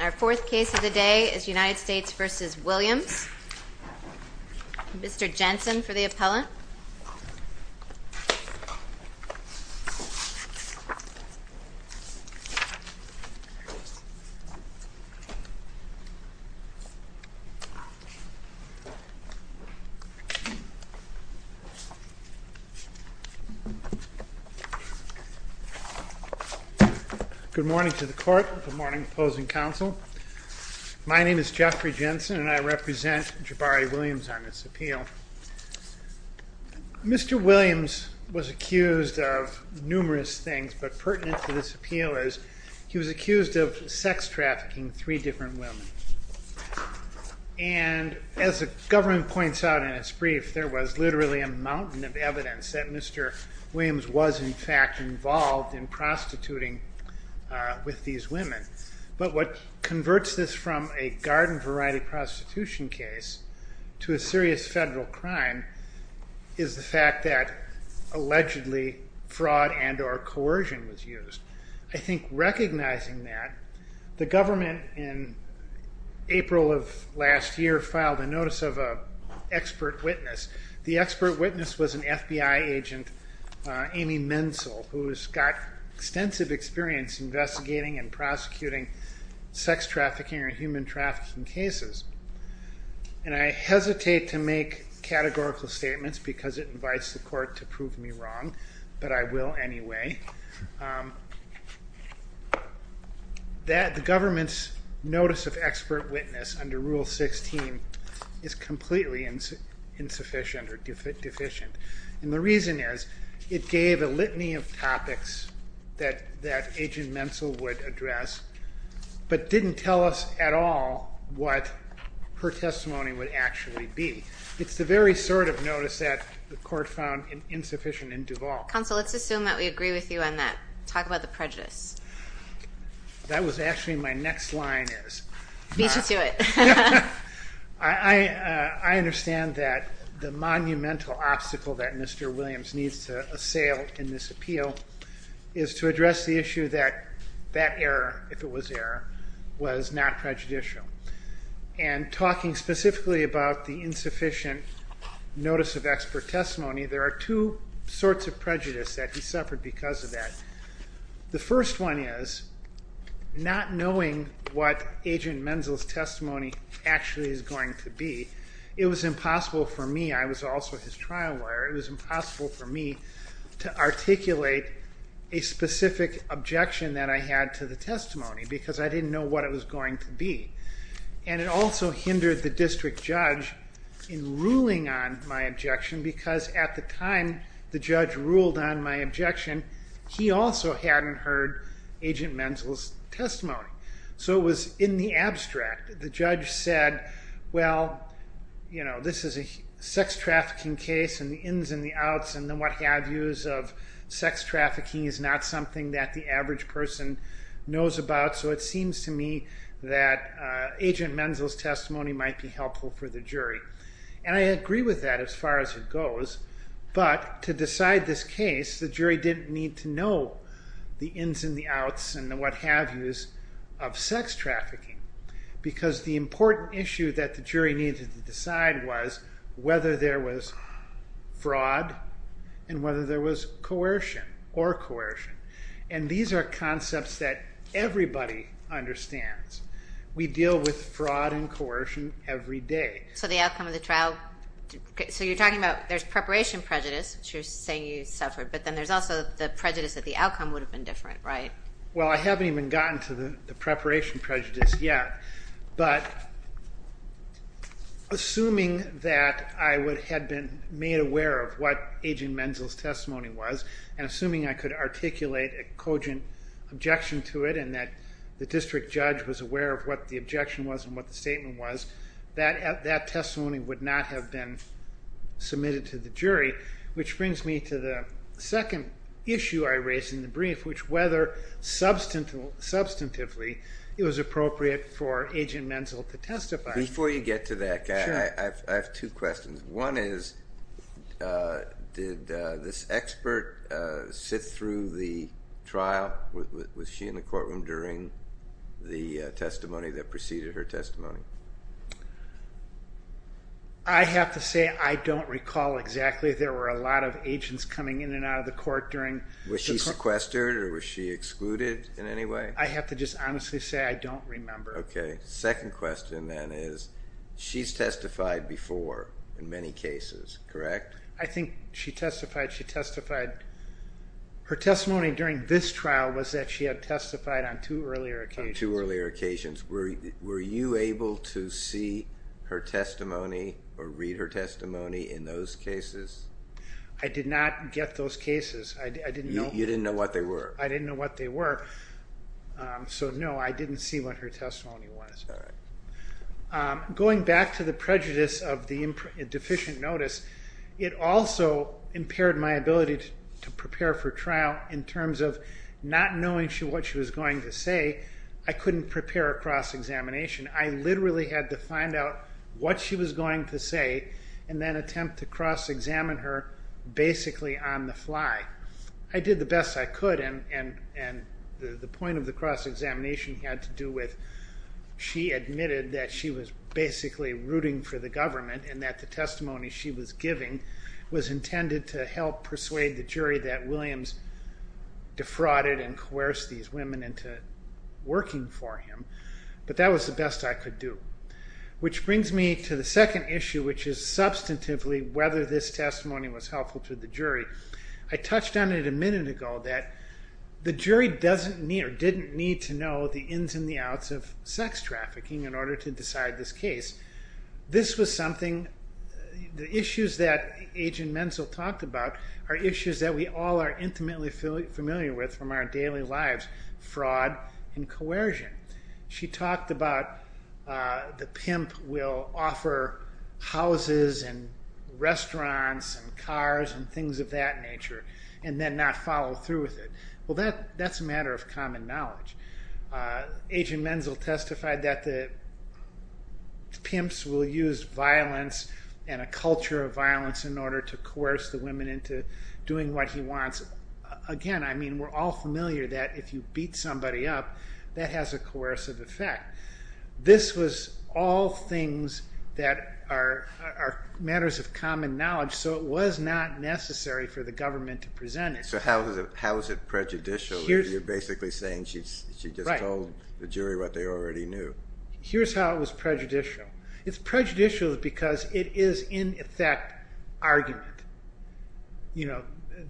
Our fourth case of the day is United States v. Williams. Mr. Jensen for the appellant. Good morning to the court, good morning opposing counsel. My name is Jeffrey Jensen and I represent Jaboree Williams on this appeal. Mr. Williams was accused of numerous things, but pertinent to this appeal is he was accused of sex trafficking three different women. And as the government points out in its brief, there was literally a mountain of evidence that Mr. Williams was in fact involved in prostituting with these women. But what converts this from a garden variety prostitution case to a serious federal crime is the fact that allegedly fraud and or coercion was used. I think recognizing that, the government in April of last year filed a notice of an expert witness. The expert witness was an FBI agent, Amy Menzel, who has got extensive experience investigating and prosecuting sex trafficking and human trafficking cases. And I hesitate to make categorical statements because it invites the court to prove me wrong, but I will anyway. The government's notice of expert witness under Rule 16 is completely insufficient or deficient. And the reason is it gave a litany of topics that Agent Menzel would address, but didn't tell us at all what her testimony would actually be. It's the very sort of notice that the court found insufficient in Duvall. Counsel, let's assume that we agree with you on that. Talk about the prejudice. That was actually my next line is. Beach it to it. I understand that the monumental obstacle that Mr. Williams needs to assail in this appeal is to address the issue that that error, if it was error, was not prejudicial. And talking specifically about the insufficient notice of expert testimony, there are two sorts of prejudice that he suffered because of that. The first one is not knowing what Agent Menzel's testimony actually is going to be. It was impossible for me. I was also his trial lawyer. It was impossible for me to articulate a specific objection that I had to the testimony because I didn't know what it was going to be. And it also hindered the district judge in ruling on my objection because at the time the judge ruled on my objection, he also hadn't heard Agent Menzel's testimony. So it was in the abstract. The judge said, well, you know, this is a sex trafficking case and the ins and the outs and the what-have-yous of sex trafficking is not something that the average person knows about. So it seems to me that Agent Menzel's testimony might be helpful for the jury. And I agree with that as far as it goes. But to decide this case, the jury didn't need to know the ins and the outs and the what-have-yous of sex trafficking because the important issue that the jury needed to decide was whether there was fraud and whether there was coercion or coercion. And these are concepts that everybody understands. We deal with fraud and coercion every day. So the outcome of the trial, so you're talking about there's preparation prejudice, which you're saying you suffered, but then there's also the prejudice that the outcome would have been different, right? Well, I haven't even gotten to the preparation prejudice yet. But assuming that I had been made aware of what Agent Menzel's testimony was and assuming I could articulate a cogent objection to it and that the district judge was aware of what the objection was and what the statement was, that testimony would not have been submitted to the jury, which brings me to the second issue I raised in the brief, which whether substantively it was appropriate for Agent Menzel to testify. Before you get to that, I have two questions. One is, did this expert sit through the trial? Was she in the courtroom during the testimony that preceded her testimony? I have to say I don't recall exactly. There were a lot of agents coming in and out of the court during the court. Was she sequestered or was she excluded in any way? I have to just honestly say I don't remember. Okay. Second question then is, she's testified before in many cases, correct? I think she testified. Her testimony during this trial was that she had testified on two earlier occasions. Were you able to see her testimony or read her testimony in those cases? I did not get those cases. You didn't know what they were? I didn't know what they were. So no, I didn't see what her testimony was. Going back to the prejudice of the deficient notice, it also impaired my ability to prepare for trial in terms of not knowing what she was going to say. I couldn't prepare a cross-examination. I literally had to find out what she was going to say and then attempt to cross-examine her basically on the fly. I did the best I could and the point of the cross-examination had to do with she admitted that she was basically rooting for the government and that the testimony she was giving was sometimes defrauded and coerced these women into working for him, but that was the best I could do. Which brings me to the second issue, which is substantively whether this testimony was helpful to the jury. I touched on it a minute ago that the jury doesn't need or didn't need to know the ins and the outs of sex trafficking in order to decide this case. This was something, the issues that Agent Menzel talked about are issues that we all are intimately familiar with from our daily lives, fraud and coercion. She talked about the pimp will offer houses and restaurants and cars and things of that nature and then not follow through with it. Well that's a matter of common knowledge. Agent Menzel testified that the pimps will use violence and a culture of violence in order to coerce the women into doing what he wants. Again, we're all familiar that if you beat somebody up, that has a coercive effect. This was all things that are matters of common knowledge, so it was not necessary for the government to present it. So how is it prejudicial? You're basically saying she just told the jury what they already knew. Here's how it was prejudicial. It's prejudicial because it is, in effect, argument.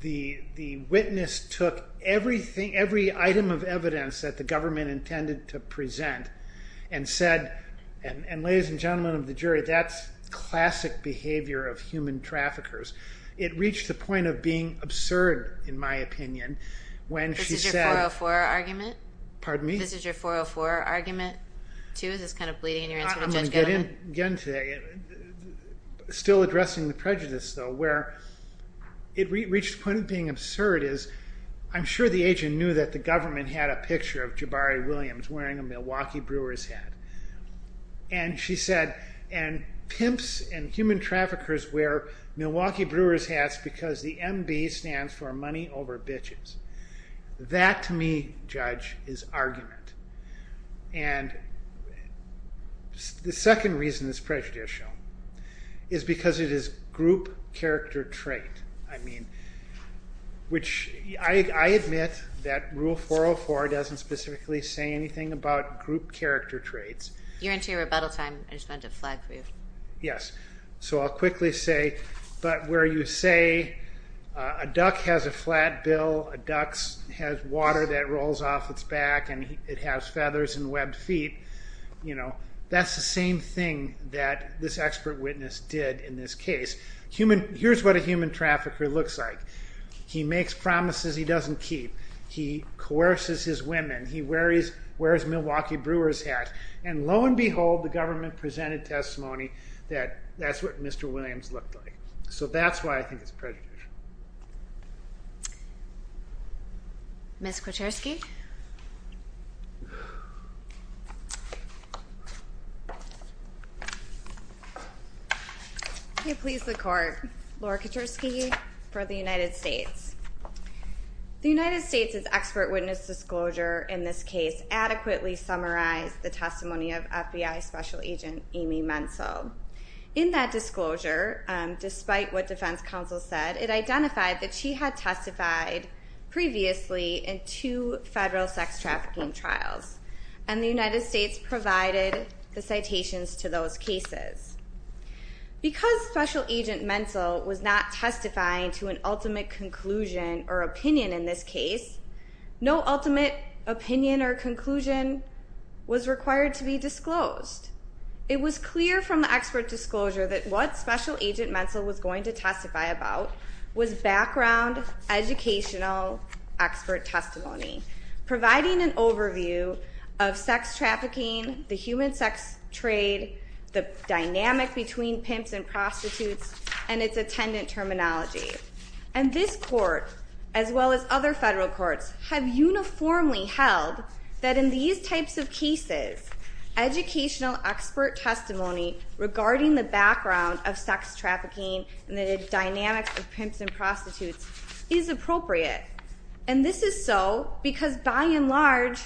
The witness took every item of evidence that the government intended to present and said, and ladies and gentlemen of the jury, that's classic behavior of human traffickers. It reached the point of being absurd, in my opinion. This is your 404 argument? Pardon me? This is your 404 argument? I'm going to get in again today. Still addressing the prejudice, though, where it reached the point of being absurd. I'm sure the agent knew that the government had a picture of Jabari Williams wearing a Milwaukee Brewer's hat. And she said, and pimps and human traffickers wear Milwaukee Brewer's hats because the MB stands for money over bitches. That, to me, Judge, is argument. And the second reason it's prejudicial is because it is group character trait. I mean, which I admit that Rule 404 doesn't specifically say anything about group character traits. You're into your rebuttal time. I just wanted to flag for you. Yes. So I'll quickly say, but where you say a duck has a flat bill, a duck has water that rolls off its back, and it has feathers and webbed feet, that's the same thing that this expert witness did in this case. Here's what a human trafficker looks like. He makes promises he doesn't keep. He coerces his women. He wears Milwaukee Brewer's hat. And lo and behold, the government presented testimony that that's what Mr. Williams looked like. So that's why I think it's prejudicial. Ms. Kaczorski? May it please the Court. Laura Kaczorski for the United States. The United States' expert witness disclosure in this case adequately summarized the testimony of FBI Special Agent Amy Menzel. In that disclosure, despite what defense counsel said, it identified that she had testified previously in two federal sex trafficking trials. And the United States provided the citations to those cases. Because Special Agent Menzel was not testifying to an ultimate conclusion or opinion in this case, no ultimate opinion or conclusion was required to be disclosed. It was clear from the expert disclosure that what Special Agent Menzel was going to testify about was background educational expert testimony, providing an overview of sex trafficking, the human sex trade, the dynamic between pimps and prostitutes, and its attendant terminology. And this Court, as well as other federal courts, have uniformly held that in these types of cases, educational expert testimony regarding the background of sex trafficking and the dynamics of pimps and prostitutes is appropriate. And this is so because, by and large,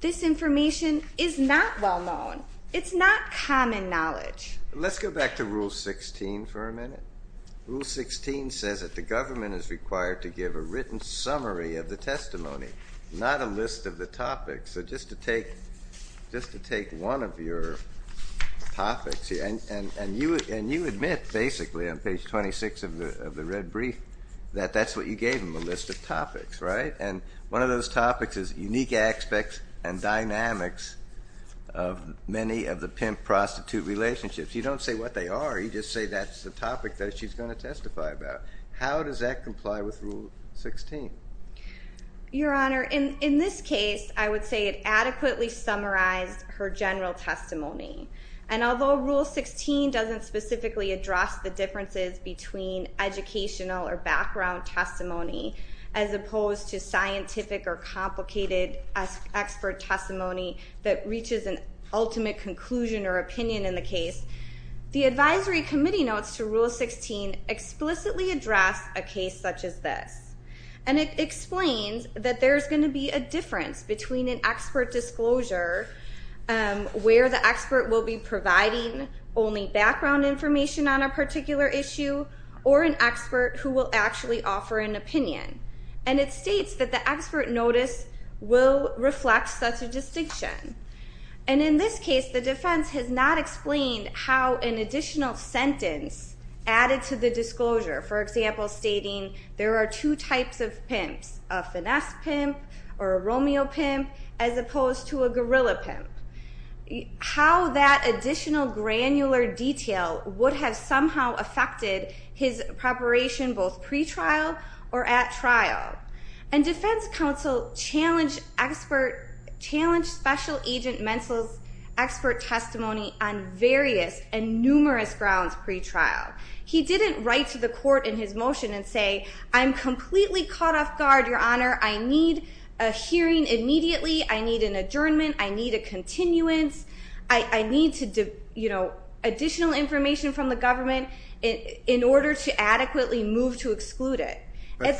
this information is not well known. It's not common knowledge. Let's go back to Rule 16 for a minute. Rule 16 says that the government is required to give a written summary of the testimony, not a list of the topics. So just to take one of your topics here. And you admit, basically, on page 26 of the red brief, that that's what you gave him, a list of topics, right? And one of those topics is unique aspects and dynamics of many of the pimp-prostitute relationships. You don't say what they are. You just say that's the topic that she's going to testify about. How does that comply with Rule 16? Your Honor, in this case, I would say it adequately summarized her general testimony. And although Rule 16 doesn't specifically address the differences between educational or background testimony, as opposed to scientific or complicated expert testimony that reaches an ultimate conclusion or opinion in the case, the advisory committee notes to Rule 16 explicitly address a case such as this. And it explains that there's going to be a difference between an expert disclosure, where the expert will be providing only background information on a particular issue, or an expert who will actually offer an opinion. And it states that the expert notice will reflect such a distinction. And in this case, the defense has not explained how an additional sentence added to the disclosure, for example, stating there are two types of pimps, a finesse pimp or a Romeo pimp, as opposed to a gorilla pimp. How that additional granular detail would have somehow affected his preparation, both pre-trial or at trial. And defense counsel challenged special agent Mentzel's expert testimony on various and numerous grounds pre-trial. He didn't write to the court in his motion and say, I'm completely caught off guard, Your Honor, I need a hearing immediately, I need an adjournment, I need a continuance, I need additional information from the government in order to adequately move to exclude it. But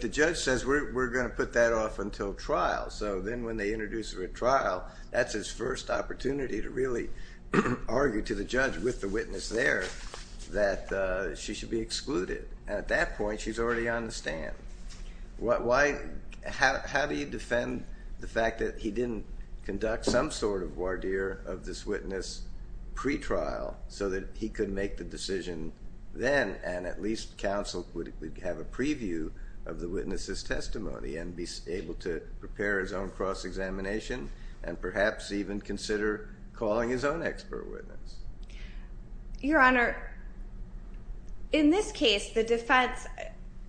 the judge says we're going to put that off until trial. So then when they introduce her at trial, that's his first opportunity to really argue to the judge with the witness there, that she should be excluded. At that point, she's already on the stand. How do you defend the fact that he didn't conduct some sort of voir dire of this witness pre-trial so that he could make the decision then, and at least counsel would have a preview of the witness's testimony and be able to prepare his own cross-examination and perhaps even consider calling his own expert witness? Your Honor, in this case, the defense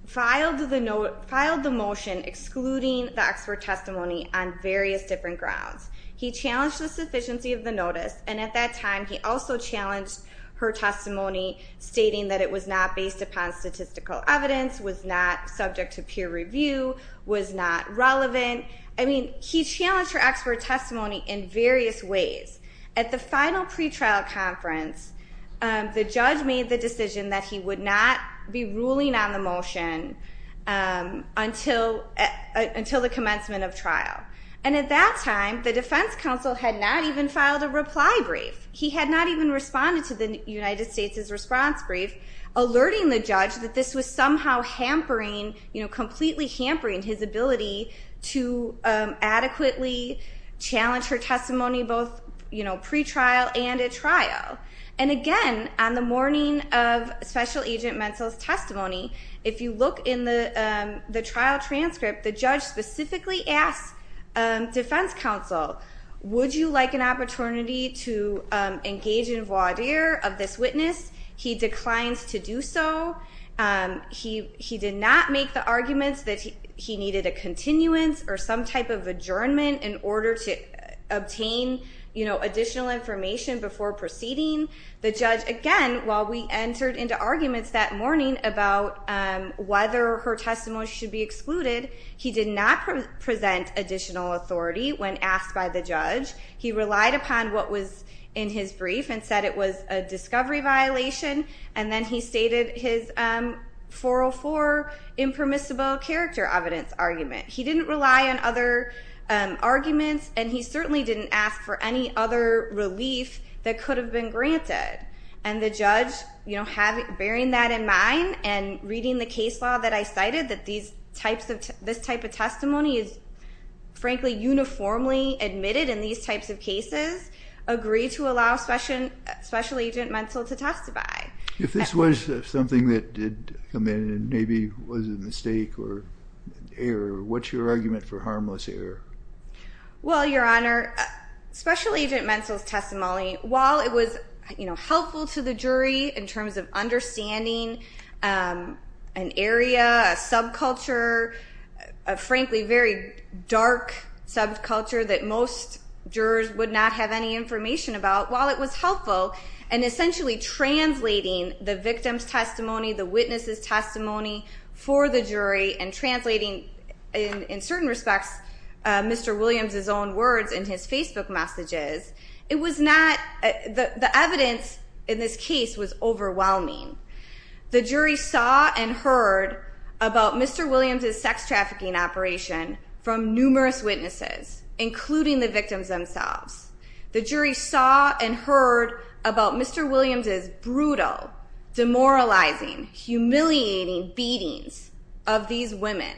filed the motion excluding the expert testimony on various different grounds. He challenged the sufficiency of the notice, and at that time, he also challenged her testimony, stating that it was not based upon statistical evidence, was not subject to peer review, was not relevant. I mean, he challenged her expert testimony in various ways. At the final pre-trial conference, the judge made the decision that he would not be ruling on the motion until the commencement of trial. And at that time, the defense counsel had not even filed a reply brief. He had not even responded to the United States' response brief, alerting the judge that this was somehow hampering, completely hampering his ability to adequately challenge her testimony both pre-trial and at trial. And again, on the morning of Special Agent Mentzel's testimony, if you look in the trial transcript, the judge specifically asked defense counsel, would you like an opportunity to engage in voir dire of this witness? He declines to do so. He did not make the arguments that he needed a continuance or some type of adjournment in order to obtain additional information before proceeding. The judge, again, while we entered into arguments that morning about whether her testimony should be excluded, he did not present additional authority when asked by the judge. He relied upon what was in his brief and said it was a discovery violation. And then he stated his 404 impermissible character evidence argument. He didn't rely on other arguments and he certainly didn't ask for any other relief that could have been granted. And the judge, bearing that in mind and reading the case law that I cited, that this type of testimony is, frankly, uniformly admitted in these types of cases, agreed to allow Special Agent Mentzel to testify. If this was something that did come in and maybe was a mistake or error, what's your argument for harmless error? Well, Your Honor, Special Agent Mentzel's testimony, while it was helpful to the jury in terms of understanding an area, a subculture, a, frankly, very dark subculture that most jurors would not have any information about, while it was helpful in essentially translating the victim's testimony, the witness's testimony for the jury and translating, in certain respects, Mr. Williams' own words in his Facebook messages, the evidence in this case was overwhelming. The jury saw and heard about Mr. Williams' sex trafficking operation from numerous witnesses, including the victims themselves. The jury saw and heard about Mr. Williams' brutal, demoralizing, humiliating beatings of these women.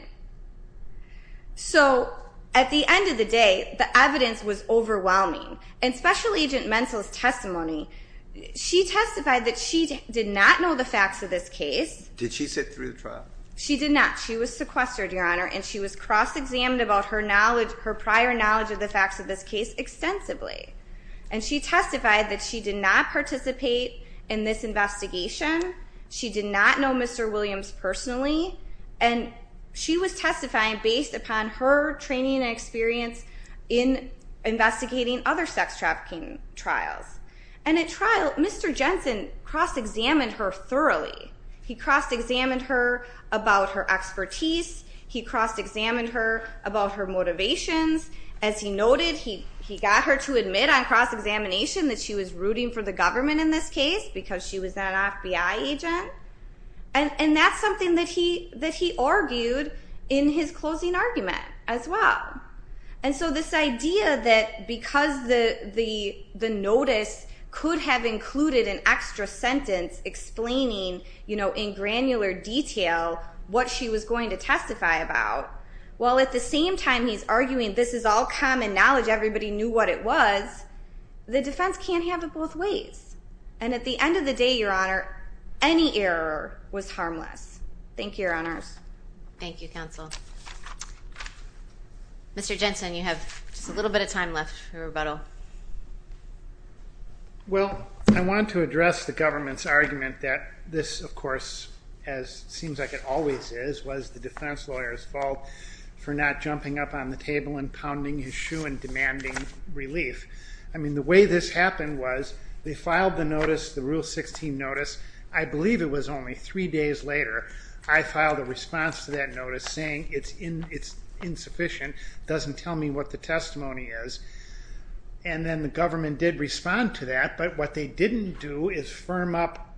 So, at the end of the day, the evidence was overwhelming. In Special Agent Mentzel's testimony, she testified that she did not know the facts of this case. Did she sit through the trial? She did not. She was sequestered, Your Honor, and she was cross-examined about her prior knowledge of the facts of this case extensively. And she testified that she did not participate in this investigation. She did not know Mr. Williams personally. And she was testifying based upon her training and experience in investigating other sex trafficking trials. And at trial, Mr. Jensen cross-examined her thoroughly. He cross-examined her about her expertise. He cross-examined her about her motivations. As he noted, he got her to admit on cross-examination that she was rooting for the government in this case because she was an FBI agent. And that's something that he argued in his closing argument as well. And so this idea that because the notice could have included an extra sentence explaining in granular detail what she was going to testify about, while at the same time he's arguing this is all common knowledge, everybody knew what it was, the defense can't have it both ways. And at the end of the day, Your Honor, any error was harmless. Thank you, Your Honors. Thank you, Counsel. Mr. Jensen, you have just a little bit of time left for rebuttal. Well, I want to address the government's argument that this, of course, as it seems like it always is, was the defense lawyer's fault for not jumping up on the table and pounding his shoe and demanding relief. I mean, the way this happened was they filed the notice, the Rule 16 notice, I believe it was only three days later, I filed a response to that notice saying it's insufficient, doesn't tell me what the testimony is. And then the government did respond to that, but what they didn't do is firm up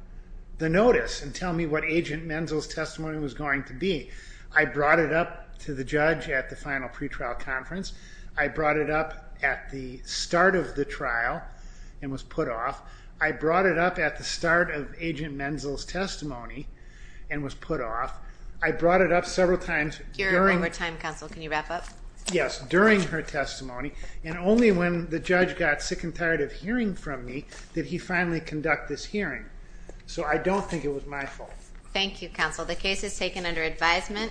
the notice and tell me what Agent Menzel's testimony was going to be. I brought it up to the judge at the final pretrial conference. I brought it up at the start of the trial and was put off. I brought it up at the start of Agent Menzel's testimony and was put off. I brought it up several times during... Your one more time, Counsel, can you wrap up? Yes, during her testimony, and only when the judge got sick and tired of hearing from me did he finally conduct this hearing. So I don't think it was my fault. Thank you, Counsel. The case is taken under advisement.